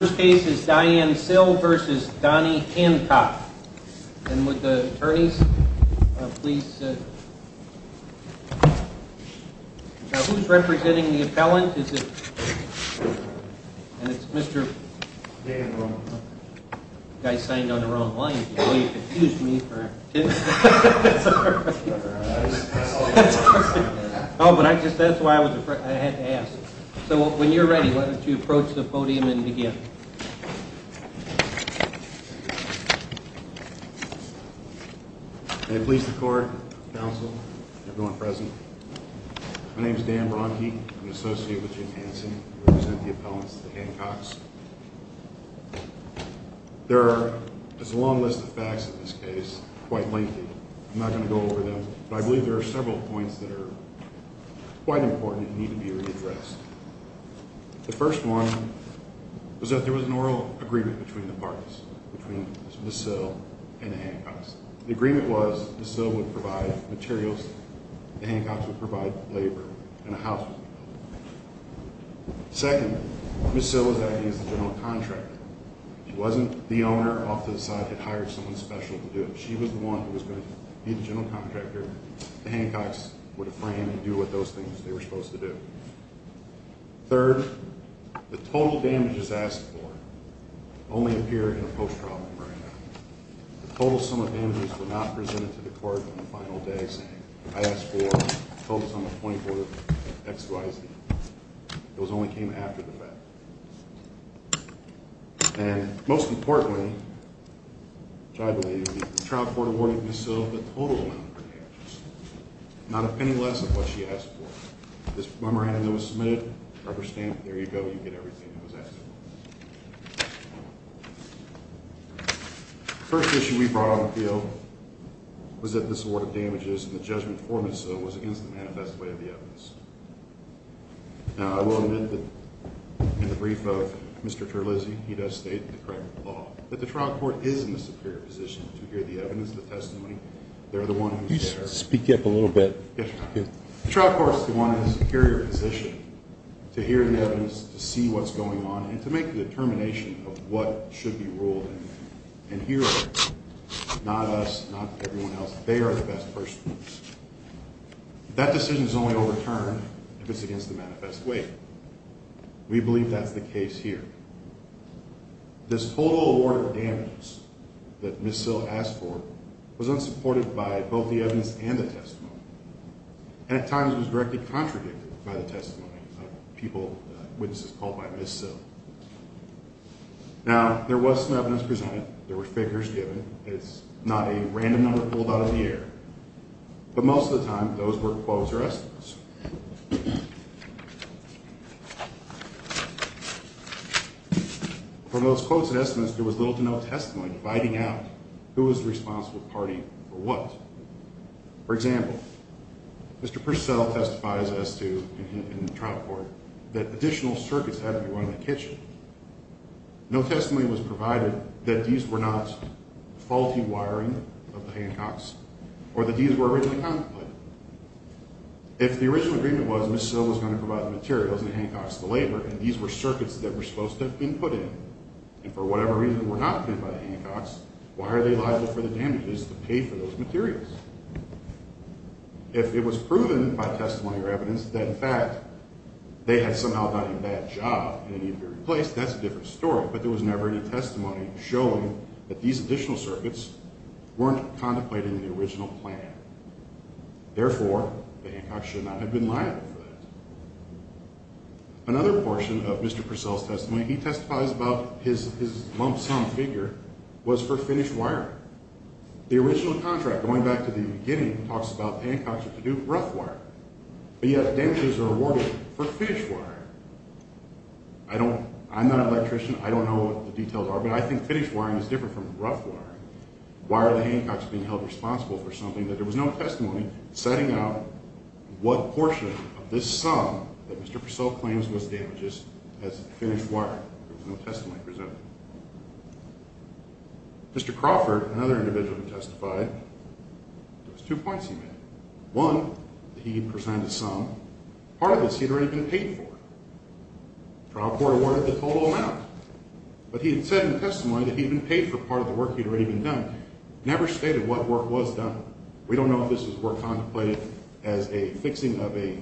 First case is Diane Sill v. Donnie Hancock. And would the attorneys please... Now who's representing the appellant? And it's Mr. Guy signed on the wrong line. He confused me. Oh, but that's why I had to ask. So when you're ready, why don't you approach the podium and begin. May it please the court, counsel, everyone present. My name is Dan Bronke. I'm an associate with Jim Hanson. I represent the appellants to the Hancocks. There is a long list of facts in this case, quite lengthy. I'm not going to go over them, but I believe there are several points that are quite important and need to be readdressed. The first one was that there was an oral agreement between the parties, between Ms. Sill and the Hancocks. The agreement was Ms. Sill would provide materials, the Hancocks would provide labor, and a house would be built. Second, Ms. Sill was acting as the general contractor. She wasn't the owner off to the side that hired someone special to do it. She was the one who was going to be the general contractor. The Hancocks were to frame and do what those things they were supposed to do. Third, the total damages asked for only appear in a post-trial memorandum. The total sum of damages were not presented to the court on the final day saying, I asked for the total sum of 24 XYZ. Those only came after the fact. And most importantly, which I believe the trial court awarded Ms. Sill the total amount of damages, not a penny less of what she asked for. This memorandum that was submitted, rubber stamp, there you go, you get everything that was asked for. The first issue we brought on the field was that this award of damages and the judgment for Ms. Sill was against the manifest way of the evidence. Now I will admit that in the brief of Mr. Terlizzi, he does state in the correct law that the trial court is in the superior position to hear the evidence, the testimony. The trial court is the one in the superior position to hear the evidence, to see what's going on, and to make the determination of what should be ruled in here. Not us, not everyone else. They are the best person. That decision is only overturned if it's against the manifest way. We believe that's the case here. This total award of damages that Ms. Sill asked for was unsupported by both the evidence and the testimony. And at times was directly contradicted by the testimony of people, witnesses called by Ms. Sill. Now there was some evidence presented. There were figures given. It's not a random number pulled out of the air. But most of the time those were quotes or estimates. For those quotes and estimates, there was little to no testimony dividing out who was responsible party for what. For example, Mr. Purcell testifies as to, in the trial court, that additional circuits had to be run in the kitchen. No testimony was provided that these were not faulty wiring of the Hancocks or that these were originally contemplated. If the original agreement was Ms. Sill was going to provide the materials and the Hancocks the labor, and these were circuits that were supposed to have been put in and for whatever reason were not put in by the Hancocks, why are they liable for the damages to pay for those materials? If it was proven by testimony or evidence that in fact they had somehow done a bad job and they needed to be replaced, that's a different story. But there was never any testimony showing that these additional circuits weren't contemplated in the trial court. Therefore, the Hancocks should not have been liable for that. Another portion of Mr. Purcell's testimony, he testifies about his lump sum figure was for finished wiring. The original contract, going back to the beginning, talks about the Hancocks were to do rough wiring. But yet damages are awarded for finished wiring. I'm not an electrician, I don't know what the details are, but I think finished wiring is different from rough wiring. Why are the Hancocks being held responsible for something that there was no testimony setting out what portion of this sum that Mr. Purcell claims was damages as finished wiring? There was no testimony presented. Mr. Crawford, another individual who testified, there was two points he made. One, he presented some. Part of this he had already been paid for. The trial court awarded the total amount. But he had said in testimony that he had been paid for part of the work he had already been done. Never stated what work was done. We don't know if this was work contemplated as a fixing of a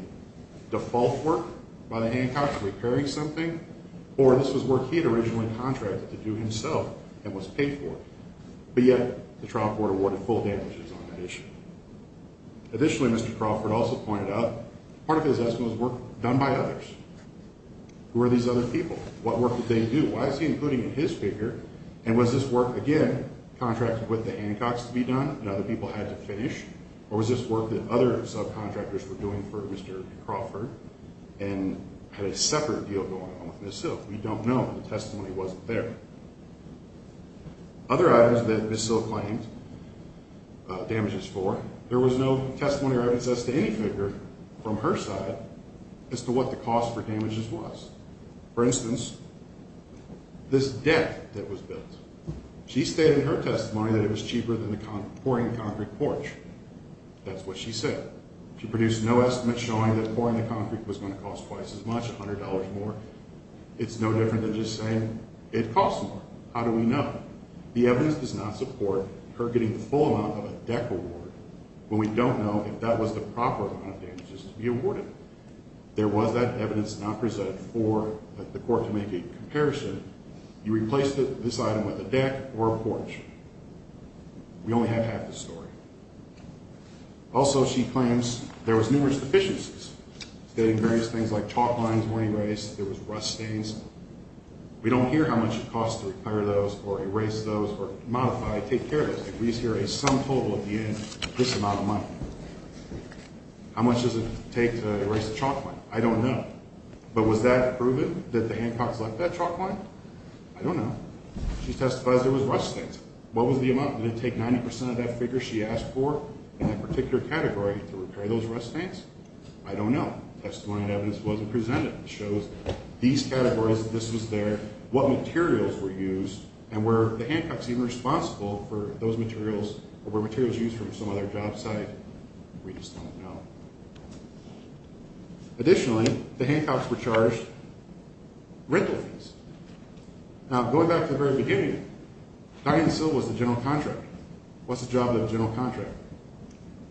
default work by the Hancocks, repairing something, or this was work he had originally contracted to do himself and was paid for. But yet, the trial court awarded full damages on that issue. Additionally, Mr. Crawford also pointed out part of his testimony was work done by others. Who are these other people? What work did they do? Why is he including his figure? And was this work, again, contracted with the Hancocks to be done and other people had to finish? Or was this work that other subcontractors were doing for Mr. Crawford and had a separate deal going on with Ms. Silk? We don't know. The testimony wasn't there. Other items that Ms. Silk claimed damages for, there was no testimony or evidence as to any figure from her side as to what the cost for damages was. For instance, this deck that was built. She stated in her testimony that it was cheaper than the pouring concrete porch. That's what she said. She produced no estimate showing that pouring the concrete was going to cost twice as much, $100 more. It's no different than just saying it costs more. How do we know? The evidence does not support her getting the full amount of a deck award when we don't know if that was the proper amount of damages to be awarded. There was that evidence not presented for the court to make a comparison. You replaced this item with a deck or a porch. We only have half the story. Also, she claims there was numerous deficiencies, stating various things like chalk lines were erased, there was rust stains. We don't hear how much it costs to repair those or erase those or modify, take care of those. We just hear a sum total at the end of this amount of money. How much does it take to repair those? We don't know. But was that proven that the Hancocks left that chalk line? I don't know. She testifies there was rust stains. What was the amount? Did it take 90% of that figure she asked for in that particular category to repair those rust stains? I don't know. Testimony and evidence wasn't presented that shows these categories, this was there, what materials were used, and were the Hancocks even responsible for those materials or were materials used from some other job site? We just don't know. Additionally, the Hancocks were charged rental fees. Now, going back to the very beginning, Dianne Sill was the general contractor. What's the job of the general contractor?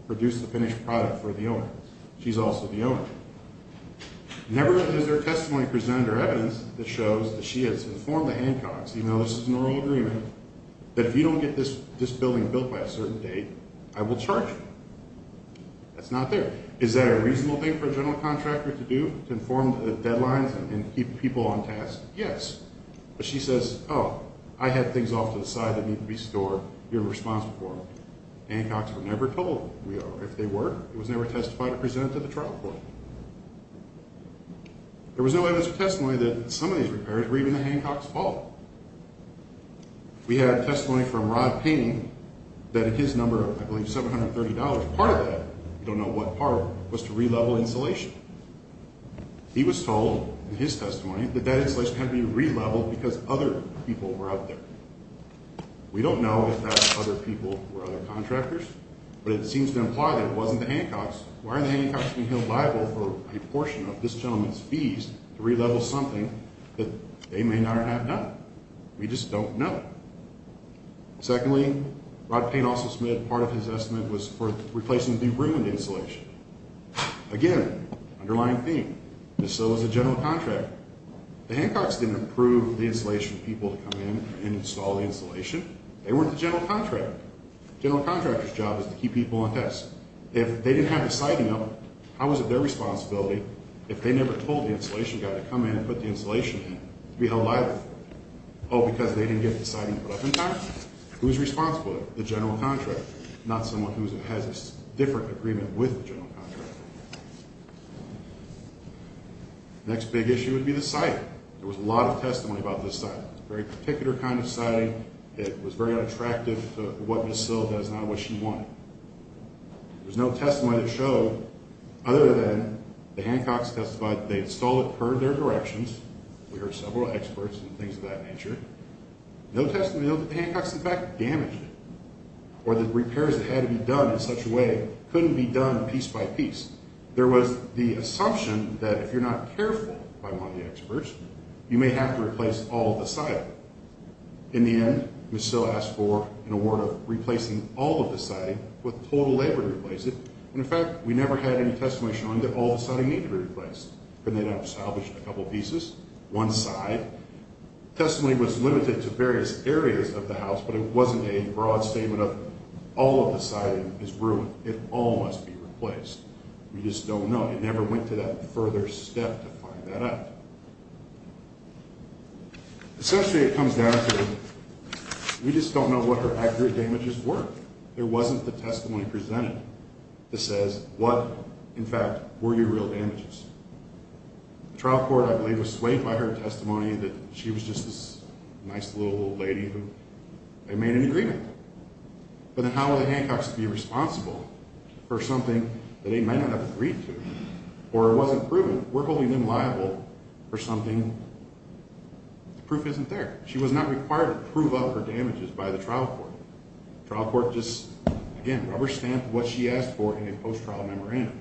Produce the finished product for the owner. She's also the owner. Never has there been testimony presented or evidence that shows that she has informed the Hancocks, even though this is an oral agreement, that if you don't get this building built by a certain date, I will charge you. That's not there. Is that a reasonable thing for a general contractor to do, to inform the deadlines and keep people on task? Yes. But she says, oh, I have things off to the side that need to be restored you're responsible for them. Hancocks were never told who we are. If they were, it was never testified or presented to the trial court. There was no evidence or testimony that some of these repairs were even the Hancocks' fault. We had testimony from Rod Painting that his number, I believe $730, part of that, we don't know what part, was to re-level insulation. He was told in his testimony that that insulation had to be re-leveled because other people were out there. We don't know if that other people were other contractors, but it seems to imply that it wasn't the Hancocks. Why are the Hancocks being held liable for a portion of this gentleman's fees to re-level something that they may not have done? We just don't know. Secondly, Rod Paint also submitted part of his estimate was for replacing the de-brimmed insulation. Again, underlying theme, and so was the general contractor. The Hancocks didn't approve the insulation for people to come in and install the insulation. They weren't the general contractor. The general contractor's job was to keep people on task. If they didn't have the siding up, how was it their responsibility if they never told the insulation guy to come in and put the insulation in to be held liable? Oh, because they didn't get the siding put up in time. Who's responsible? The general contractor, not someone who has a different agreement with the general contractor. Next big issue would be the siding. There was a lot of testimony about this siding. It was a very particular kind of siding. It was very unattractive to what Ms. Sill does and not what she wanted. There was no testimony that showed other than the Hancocks testified that they had stolen it per their directions. We heard several experts and things of that nature. No testimony that the Hancocks in fact damaged it or that repairs that had to be done in such a way couldn't be done piece by piece. There was the assumption that if you're not careful by one of the experts, you may have to replace all of the siding. In the end, Ms. Sill asked for an award of replacing all of the siding with total labor to replace it. In fact, we never had any testimony showing that all of the siding needed to be replaced. They'd have salvaged a couple pieces, one side. Testimony was limited to various areas of the house, but it wasn't a broad statement of all of the siding is ruined. It all must be replaced. We just don't know. It never went to that further step to find that out. Essentially, it comes down to we just don't know what her accurate damages were. There wasn't the testimony presented that says what in fact were your real damages. The trial court, I believe, was swayed by her testimony that she was just this nice little old lady who they made an agreement. But then how were the Hancocks to be responsible for something that they might not have agreed to or wasn't proven? We're holding them liable for something the proof isn't there. She was not required to prove up her damages by the trial court. The trial court just, again, rubber stamped what she asked for in a post-trial memorandum.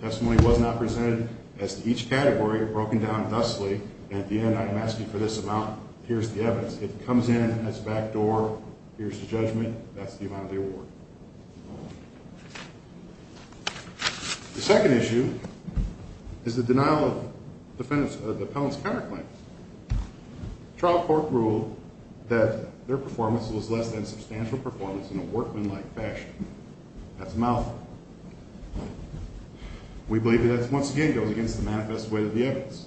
Testimony was not presented as to each category, broken down thusly, and at the end I am asking for this amount. Here's the evidence. It comes in, has a back door. Here's the judgment. That's the amount of the award. The second issue is the denial of the appellant's counterclaims. The trial court ruled that their performance was less than substantial performance in a workman-like fashion. That's a mouthful. We believe that that, once again, goes against the manifest way of the evidence.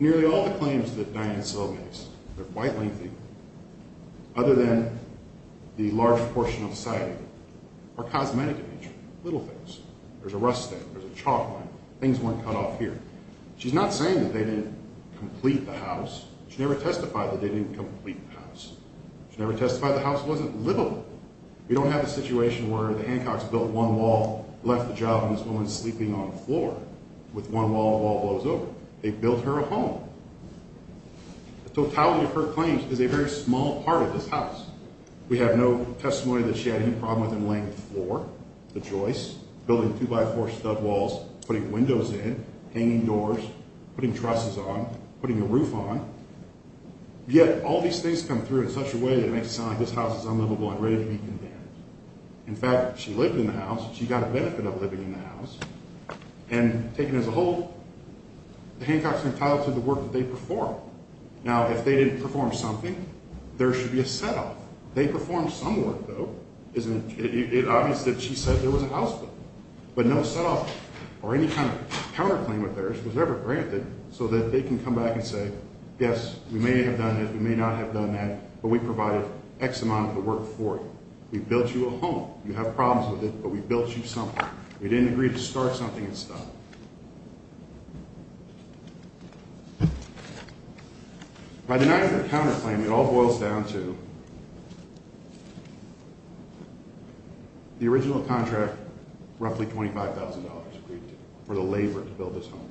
Nearly all the claims that Dianne Soule makes they're quite lengthy, other than the large portion of society, are cosmetic in nature, little things. There's a rust stamp, there's a chalk line, things weren't cut off here. She's not saying that they didn't complete the house. She never testified that they didn't complete the house. She never testified the house wasn't livable. We don't have a situation where the Hancocks built one wall, left the job, and this woman's sleeping on the floor. With one wall, the wall blows over. They built her a home. The totality of her claims is a very small part of this house. We have no testimony that she had any problem with them laying the floor, the joists, building two-by-four stud walls, putting windows in, hanging doors, putting trusses on, putting a roof on. Yet, all these things come through in such a way that it makes it sound like this house is unlivable and ready to be condemned. In fact, she lived in the house, she got the benefit of living in the house, and taken as a whole the Hancocks entitled to the work that they performed. Now, if they didn't perform something, there should be a set-off. They performed some work, though. It's obvious that she said there was a house built, but no set-off or any kind of counterclaim of theirs was ever granted so that they can come back and say, yes, we may have done this, we may not have done that, but we provided X amount of the work for you. We built you a home. You have problems with it, but we built you something. We didn't agree to start something and stop. By denying her a counterclaim, it all boils down to the original contract, roughly $25,000 agreed to for the labor to build this home.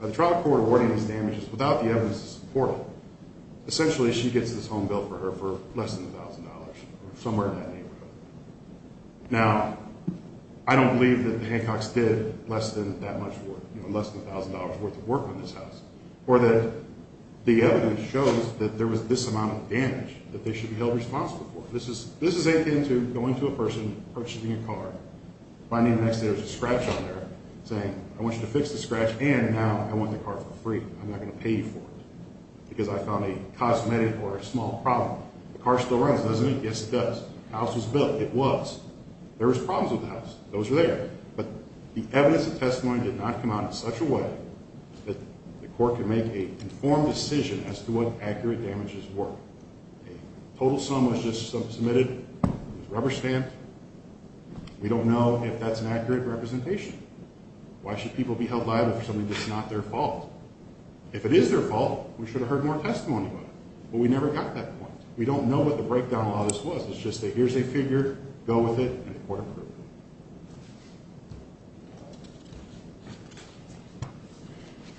The trial court awarding this damage is without the evidence to support it. Essentially, she gets this home built for her for less than $1,000 or somewhere in that neighborhood. Now, I don't believe that the Hancocks did less than that much work, less than $1,000 worth of work on this house, or that the evidence shows that there was this amount of damage that they should be held responsible for. This is akin to going to a person, purchasing a car, finding the next day there's a scratch on there, saying, I want you to fix the scratch, and now I want the car for free. I'm not going to pay you for it, because I found a cosmetic or a small problem. The car still runs, doesn't it? Yes, it does. The house was built. It was. There was problems with the house. Those were there. But the evidence and testimony did not come out in such a way that the court could make an informed decision as to what accurate damages were. A total sum was just submitted. It was a rubber stamp. We don't know if that's an accurate representation. Why should people be held liable for something that's not their fault? If it is their fault, we should have heard more testimony about it. But we never got that point. We don't know what the breakdown law was. It's just a, here's a figure, go with it, and the court approved it.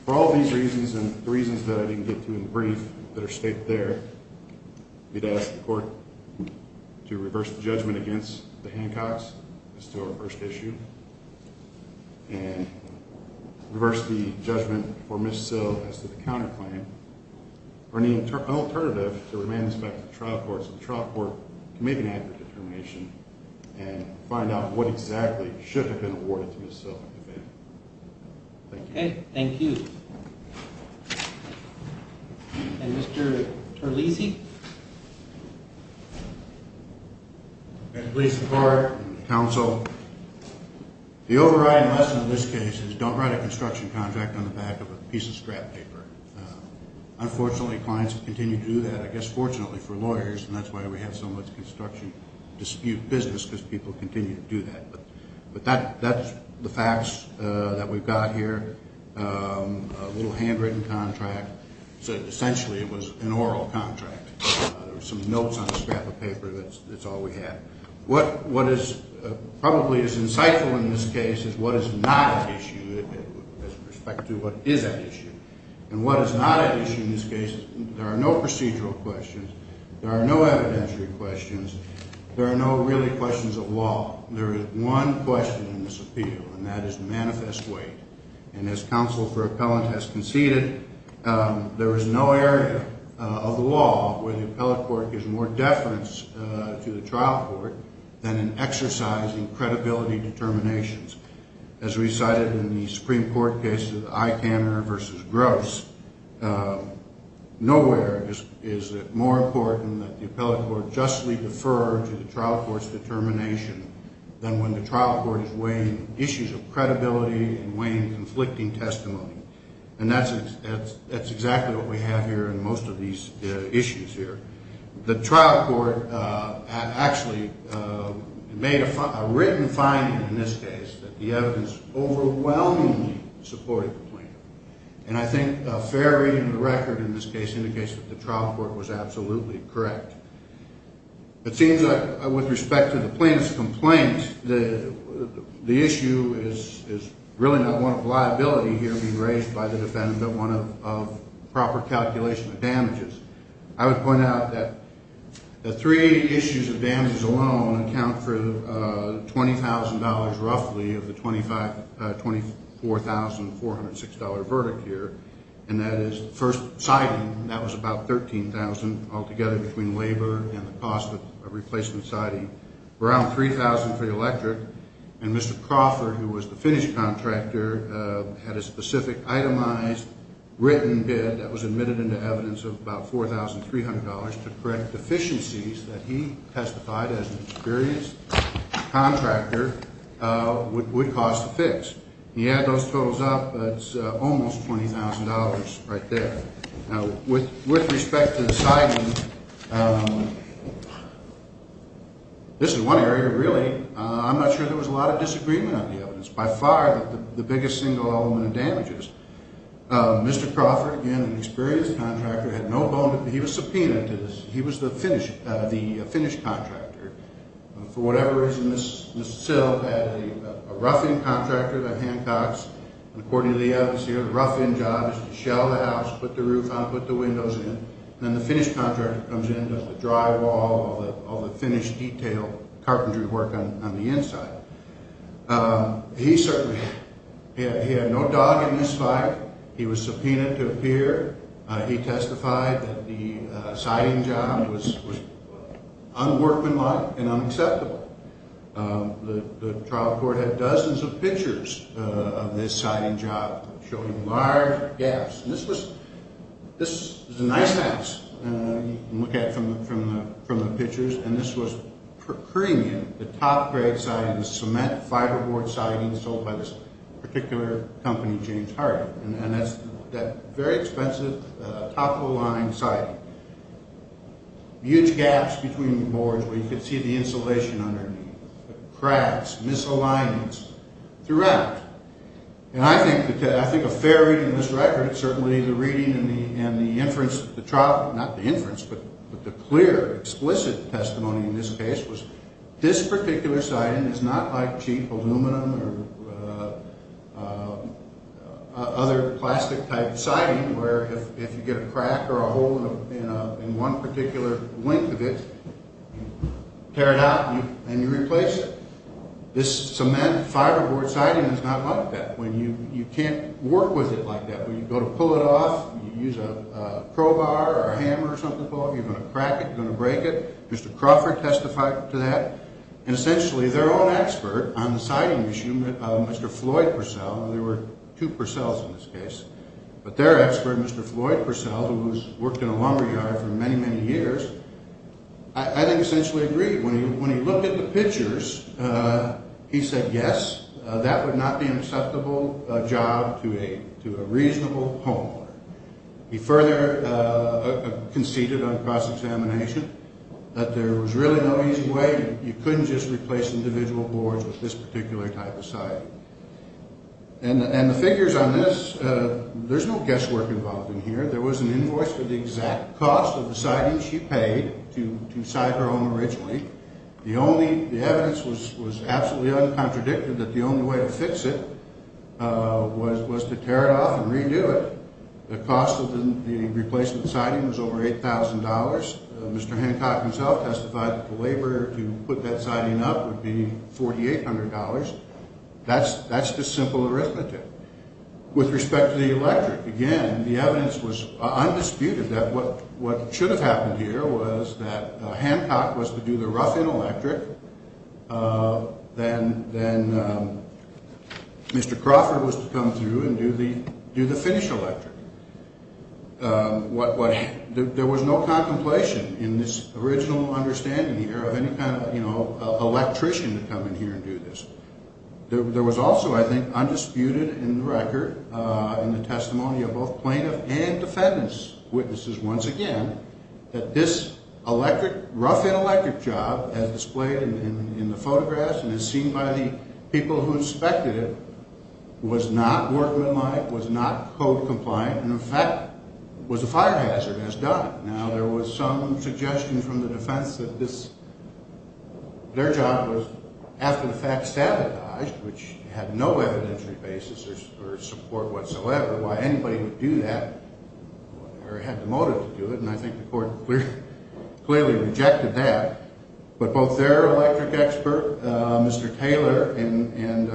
For all these reasons, and the reasons that I didn't get to in brief that are stated there, we'd ask the court to reverse the judgment against the Hancocks as to our first issue, and reverse the judgment for Ms. Sill as to the counterclaim, or any alternative to remand this back to the trial court so the trial court can make an accurate determination and find out what exactly should have been awarded to Ms. Sill in advance. Thank you. Okay, thank you. And Mr. Terlesi? Please support and counsel. The overriding lesson in this case is don't write a construction contract on the back of a piece of scrap paper. Unfortunately, clients continue to do that, I guess fortunately for lawyers, and that's why we have so much construction dispute business, because people continue to do that. But that's the facts that we've got here. A little handwritten contract. So essentially it was an oral contract. Some notes on a scrap of paper, that's all we have. What is probably as insightful in this case is what is not at issue with respect to what is at issue. And what is not at issue in this case there are no procedural questions, there are no evidentiary questions, there are no really questions of law. There is one question in this appeal, and that is manifest weight. And as counsel for there is no area of the law where the appellate court gives more deference to the trial court than in exercising credibility determinations. As recited in the Supreme Court case of Eykanner v. Gross, nowhere is it more important that the appellate court justly defer to the trial court's determination than when the trial court is weighing issues of credibility and weighing conflicting testimony. And that's exactly what we have here in most of these issues here. The trial court actually made a written finding in this case that the evidence overwhelmingly supported the plaintiff. And I think a fair reading of the record in this case indicates that the trial court was absolutely correct. It seems that with respect to the plaintiff's complaint, the issue is really not one of liability here being raised by the defendant, but one of proper calculation of damages. I would point out that the three issues of damages alone account for $20,000 roughly of the $24,406 verdict here, and that is first siding, that was about $13,000 altogether between labor and the cost of replacement siding, around $3,000 for the electric, and Mr. Crawford, who was the finished contractor, had a specific itemized written bid that was admitted into evidence of about $4,300 to correct deficiencies that he testified as an experienced contractor would cause to fix. He had those totals up, but it's almost $20,000 right there. Now, with respect to the siding, this is one area really I'm not sure there was a lot of disagreement on the evidence. By far, the biggest single element of damages. Mr. Crawford, again, an experienced contractor, had no bone to pick. He was subpoenaed to this. He was the finished contractor. For whatever reason, Ms. Sill had a rough-in contractor by Hancocks, and according to the evidence here, the rough-in job is to shell the house, put the roof on, put the windows in, and then the finished contractor comes in, does the drywall, all the finished detail, carpentry work on the inside. He had no dog in this fight. He was subpoenaed to appear. He testified that the siding job was unworkmanlike and unacceptable. The trial court had dozens of pictures of this siding job, showing large gaps. This was a nice house. You can look at it from the pictures, and this was premium, the top grade siding, the cement fiberboard siding sold by this particular company, James Harden. That very expensive top-of-the-line siding. Huge gaps between the boards where you could see the insulation underneath. Cracks, misalignments throughout. I think a fair reading of this record, certainly the reading and the inference, not the inference, but the clear, explicit testimony in this case was this particular siding is not like cheap aluminum or other plastic-type siding where if you get a crack or a hole in one particular length of it, you tear it out and you replace it. This cement fiberboard siding is not like that. You can't work with it like that. When you go to pull it or hammer or something, you're going to crack it, you're going to break it. Mr. Crawford testified to that, and essentially their own expert on the siding issue, Mr. Floyd Purcell, there were two Purcells in this case, but their expert, Mr. Floyd Purcell, who's worked in a lumberyard for many, many years, I think essentially agreed. When he looked at the pictures, he said, yes, that would not be an acceptable job to a reasonable homeowner. He further conceded on cross-examination that there was really no easy way. You couldn't just replace individual boards with this particular type of siding. And the figures on this, there's no guesswork involved in here. There was an invoice for the exact cost of the siding she paid to side her home originally. The evidence was absolutely uncontradicted that the only way to fix it was to tear it off and redo it. The cost of the replacement siding was over $8,000. Mr. Hancock himself testified that the labor to put that siding up would be $4,800. That's just simple arithmetic. With respect to the electric, again, the evidence was undisputed that what should have happened here was that Hancock was to do the rough-in electric, then Mr. Crawford was to come through and do the finish electric. There was no contemplation in this original understanding here of any kind of electrician to come in here and do this. There was also, I think, undisputed in the record, in the testimony of both plaintiff and defendant's witnesses once again, that this electric, rough-in electric job, as displayed in the record, people who inspected it, was not workmanlike, was not code-compliant, and in fact was a fire hazard as done. Now, there was some suggestion from the defense that their job was, after the fact, sabotaged, which had no evidentiary basis or support whatsoever, why anybody would do that or had the motive to do it, and I think the court clearly rejected that. But both their electric expert, Mr. Taylor, and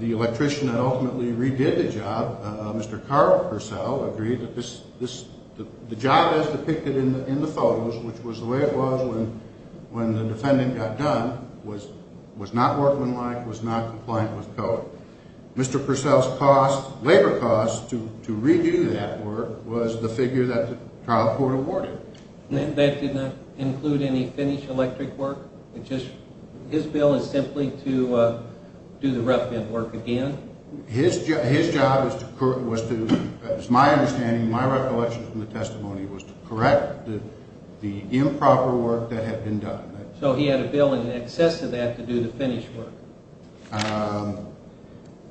the electrician that ultimately redid the job, Mr. Carl Purcell, agreed that the job as depicted in the photos, which was the way it was when the defendant got done, was not workmanlike, was not compliant with code. Mr. Purcell's labor cost to redo that work was the figure that the trial court awarded. That did not include any finish electric work? His bill is simply to do the rough-in work again? His job was to, as my understanding, my recollection from the testimony, was to correct the improper work that had been done. So he had a bill in excess of that to do the finish work?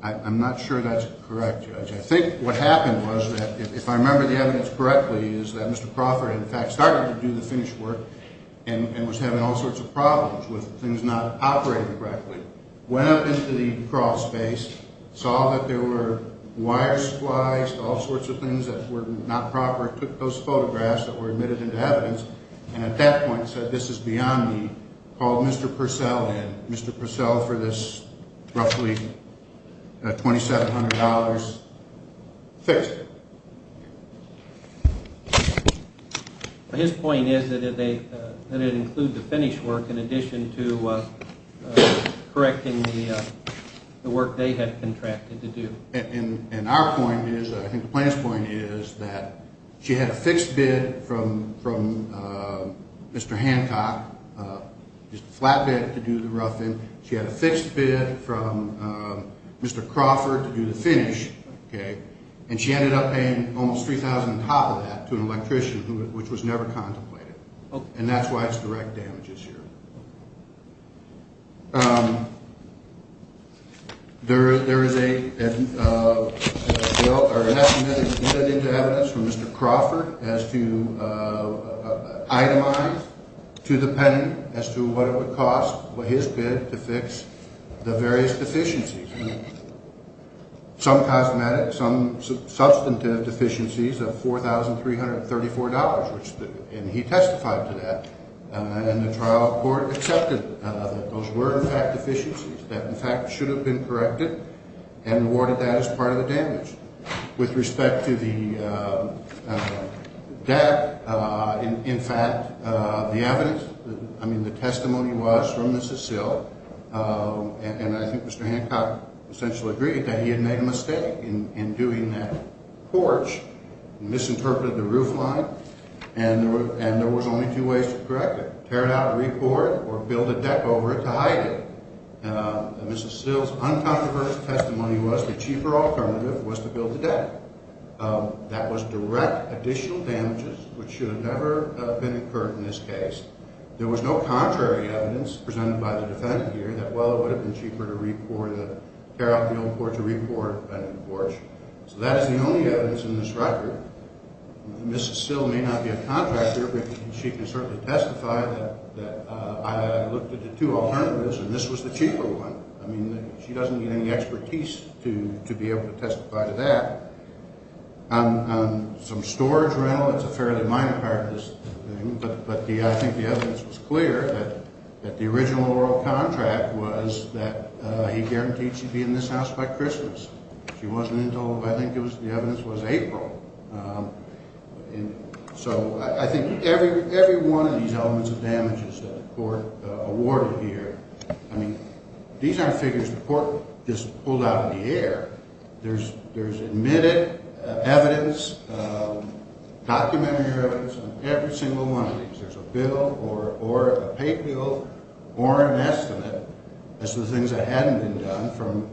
I'm not sure that's correct, Judge. I think what happened was that, if I remember the evidence correctly, is that Mr. Crawford, in fact, started to do the finish work and was having all sorts of problems with things not operating correctly, went up into the crawl space, saw that there were wires spliced, all sorts of things that were not proper, took those photographs that were admitted into evidence, and at that point said, this is beyond me, called Mr. Purcell in. Mr. Purcell, for this roughly $2,700, fixed it. His point is that it included the finish work in addition to correcting the work they had contracted to do. And our point is, I think the plaintiff's point is, that she had a fixed bid from Mr. Hancock, just a flat bid to do the rough-in. She had a fixed bid from Mr. Crawford to do the finish. And she ended up paying almost $3,000 on top of that to an electrician, which was never contemplated. And that's why it's direct damages here. There is a bill admitted into evidence from Mr. Crawford as to itemize to the penitent as to what it would cost his bid to fix the various deficiencies. Some cosmetic, some substantive deficiencies of $4,334, and he testified to that. And the trial court accepted that those were, in fact, deficiencies that, in fact, should have been corrected and rewarded that as part of the damage. With respect to the debt, in fact, the evidence, I mean, the testimony was from Mrs. Sill and I think Mr. Hancock essentially agreed that he had made a mistake in doing that porch, misinterpreted the roof line, and there was only two ways to correct it, tear it out and re-pour it or build a deck over it to hide it. Mrs. Sill's uncontroversial testimony was the cheaper alternative was to build the deck. That was direct additional damages which should have never been incurred in this case. There was no contrary evidence presented by the defendant here that, well, it would have been cheaper to re-pour the, tear out the old porch or re-pour a new porch. So that is the only evidence in this record. Mrs. Sill may not be a contractor but she can certainly testify that I looked at the two alternatives and this was the cheaper one. I mean, she doesn't need any expertise to be able to testify to that. On some storage rental, it's a fairly minor part of this thing, but I think the evidence was clear that the original oral contract was that he guaranteed she'd be in this house by Christmas. She wasn't until, I think the evidence was April. So I think every one of these elements of damages that the court awarded here, I mean, these aren't figures the court just pulled out of the air. There's admitted evidence, documentary evidence on every single one of these. There's a bill or a pay bill or an estimate as to the things that hadn't been done from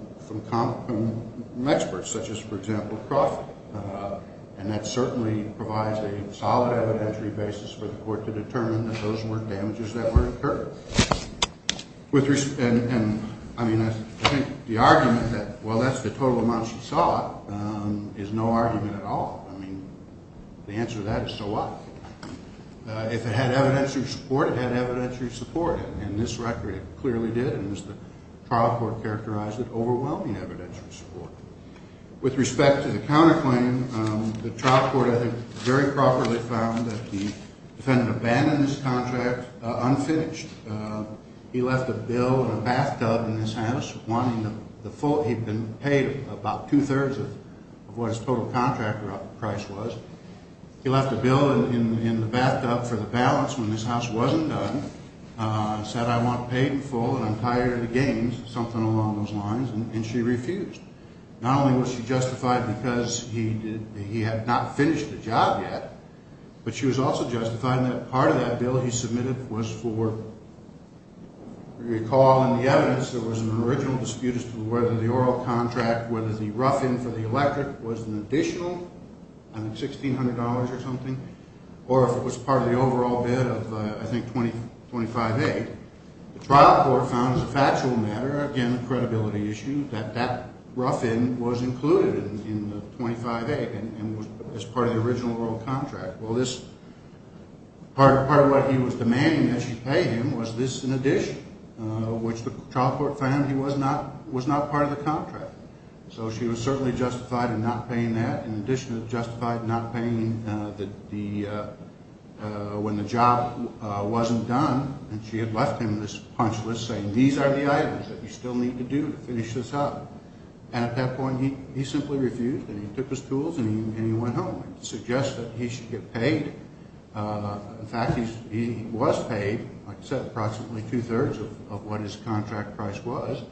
experts such as, for example, Crawford. And that certainly provides a solid evidentiary basis for the court to determine that those were damages that were incurred. And, I mean, I think the argument that well, that's the total amount she saw is no argument at all. I mean, the answer to that is, so what? If it had evidentiary support, it had evidentiary support. In this record, it clearly did, and as the trial court characterized it, overwhelming evidentiary support. With respect to the counterclaim, the trial court, I think, very properly found that the defendant abandoned this contract unfinished. He left a bill and a bathtub in this house. He'd been paid about two-thirds of what his total contract price was. He left a bill in the bathtub for the balance when this house wasn't done, said, I want paid in full and I'm tired of the games, something along those lines, and she refused. Not only was she justified because he had not finished the job yet, but she was also justified in that part of that bill he submitted was for recall and the evidence. There was an original dispute as to whether the oral contract, whether the rough-in for the electorate was an additional $1,600 or something, or if it was part of the overall bid of, I think, $2,500. The trial court found as a factual matter, again, a credibility issue, that that rough-in was included in the $2,500 and was part of the original oral contract. Well, part of what he was demanding that she pay him was this in addition, which the trial court found was not part of the contract. So she was certainly justified in not paying that, in addition to justified in not paying when the job wasn't done, and she had left him this punch list saying, these are the items that you still need to do to finish this up. At that point, he simply refused and he took his tools and he went home. I suggest that he should get paid. In fact, he was paid, like I said, approximately two-thirds of what his contract price was.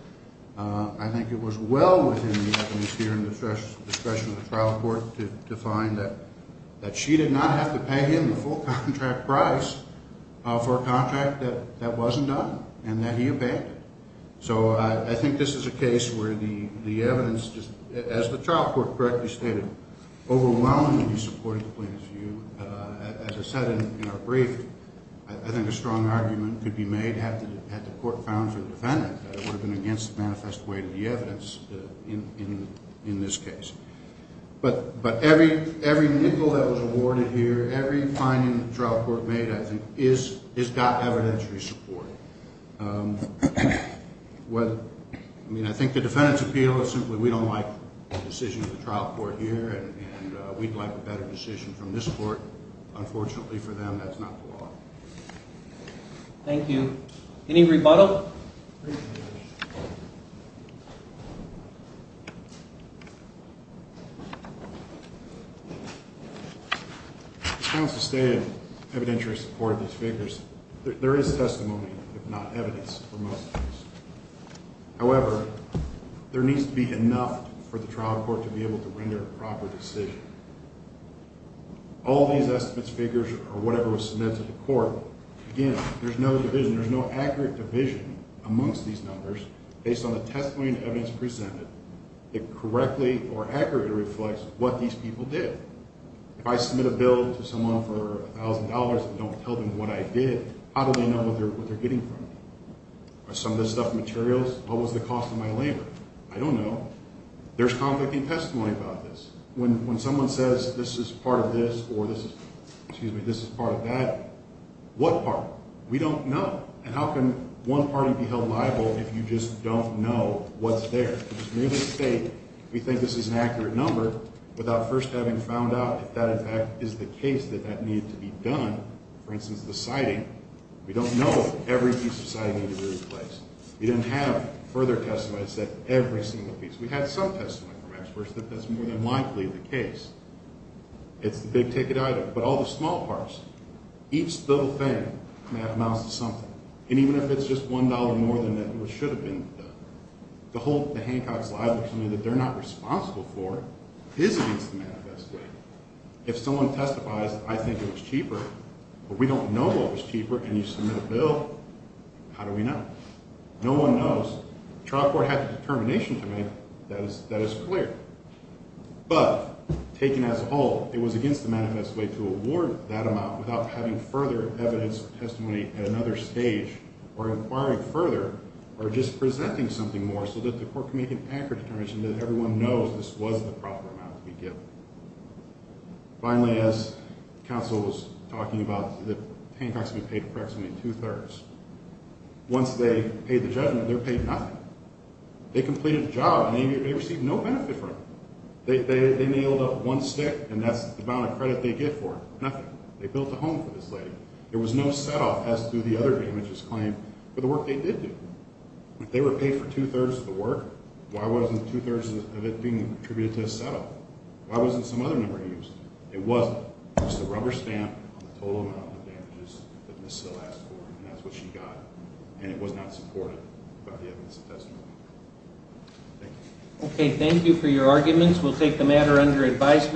I think it was well within the atmosphere and discretion of the trial court to find that she did not have to pay him the full contract price for a contract that wasn't done, and that he obeyed it. So I think this is a case where the evidence, as the trial court correctly stated, overwhelmingly supported the plaintiff's view. As I said in our brief, I think a court found for the defendant that it would have been against the manifest way of the evidence in this case. But every nickel that was awarded here, every finding the trial court made, I think has got evidentiary support. I think the defendant's appeal is simply, we don't like the decision of the trial court here and we'd like a better decision from this court. Unfortunately for them, that's not the law. Thank you. Any rebuttal? I want to stay in evidentiary support of these figures. There is testimony, if not evidence, for most of these. However, there needs to be enough for the trial court to be able to render a proper decision. All these estimates figures or whatever was submitted to the court, again, there's no division. There's no accurate division amongst these numbers based on the testimony and evidence presented that correctly or accurately reflects what these people did. If I submit a bill to someone for $1,000 and don't tell them what I did, how do they know what they're getting from me? Are some of this stuff materials? What was the cost of my labor? I don't know. There's conflicting testimony about this. When someone says this is part of this or this is part of that, what part? We don't know. And how can one party be held liable if you just don't know what's there? It's merely to say we think this is an accurate number without first having found out if that, in fact, is the case that that needed to be done. For instance, the citing. We don't know if every piece of citing needed to be replaced. We didn't have further testimony that said every single piece. We had some testimony from experts that that's more than likely the case. It's the big ticket item. But all the small parts. Each little thing that amounts to something. And even if it's just $1 more than it should have been, the whole Hancock's liability that they're not responsible for is against the manifesto. If someone testifies that I think it was cheaper but we don't know what was cheaper and you submit a bill, how do we know? No one knows. The trial court had the determination to make that is clear. But, taken as a whole, it was against the manifesto to award that amount without having further evidence or testimony at another stage or inquiring further or just presenting something more so that the court can make an accurate determination that everyone knows this was the proper amount to be given. Finally, as counsel was talking about, that Hancock's would be paid approximately two-thirds. Once they paid the judgment, they're paid nothing. They completed the job and they received no benefit from it. They nailed up one stick and that's the amount of credit they get for it. Nothing. They built a home for this lady. There was no set-off as to the other damages claimed for the work they did do. If they were paid for two-thirds of the work, why wasn't two-thirds of it being attributed to a set-off? Why wasn't some other number used? It wasn't. It was the rubber stamp on the total amount of damages that Ms. Sill asked for and that's what she got. It was not supported by the evidence of testimony. Thank you.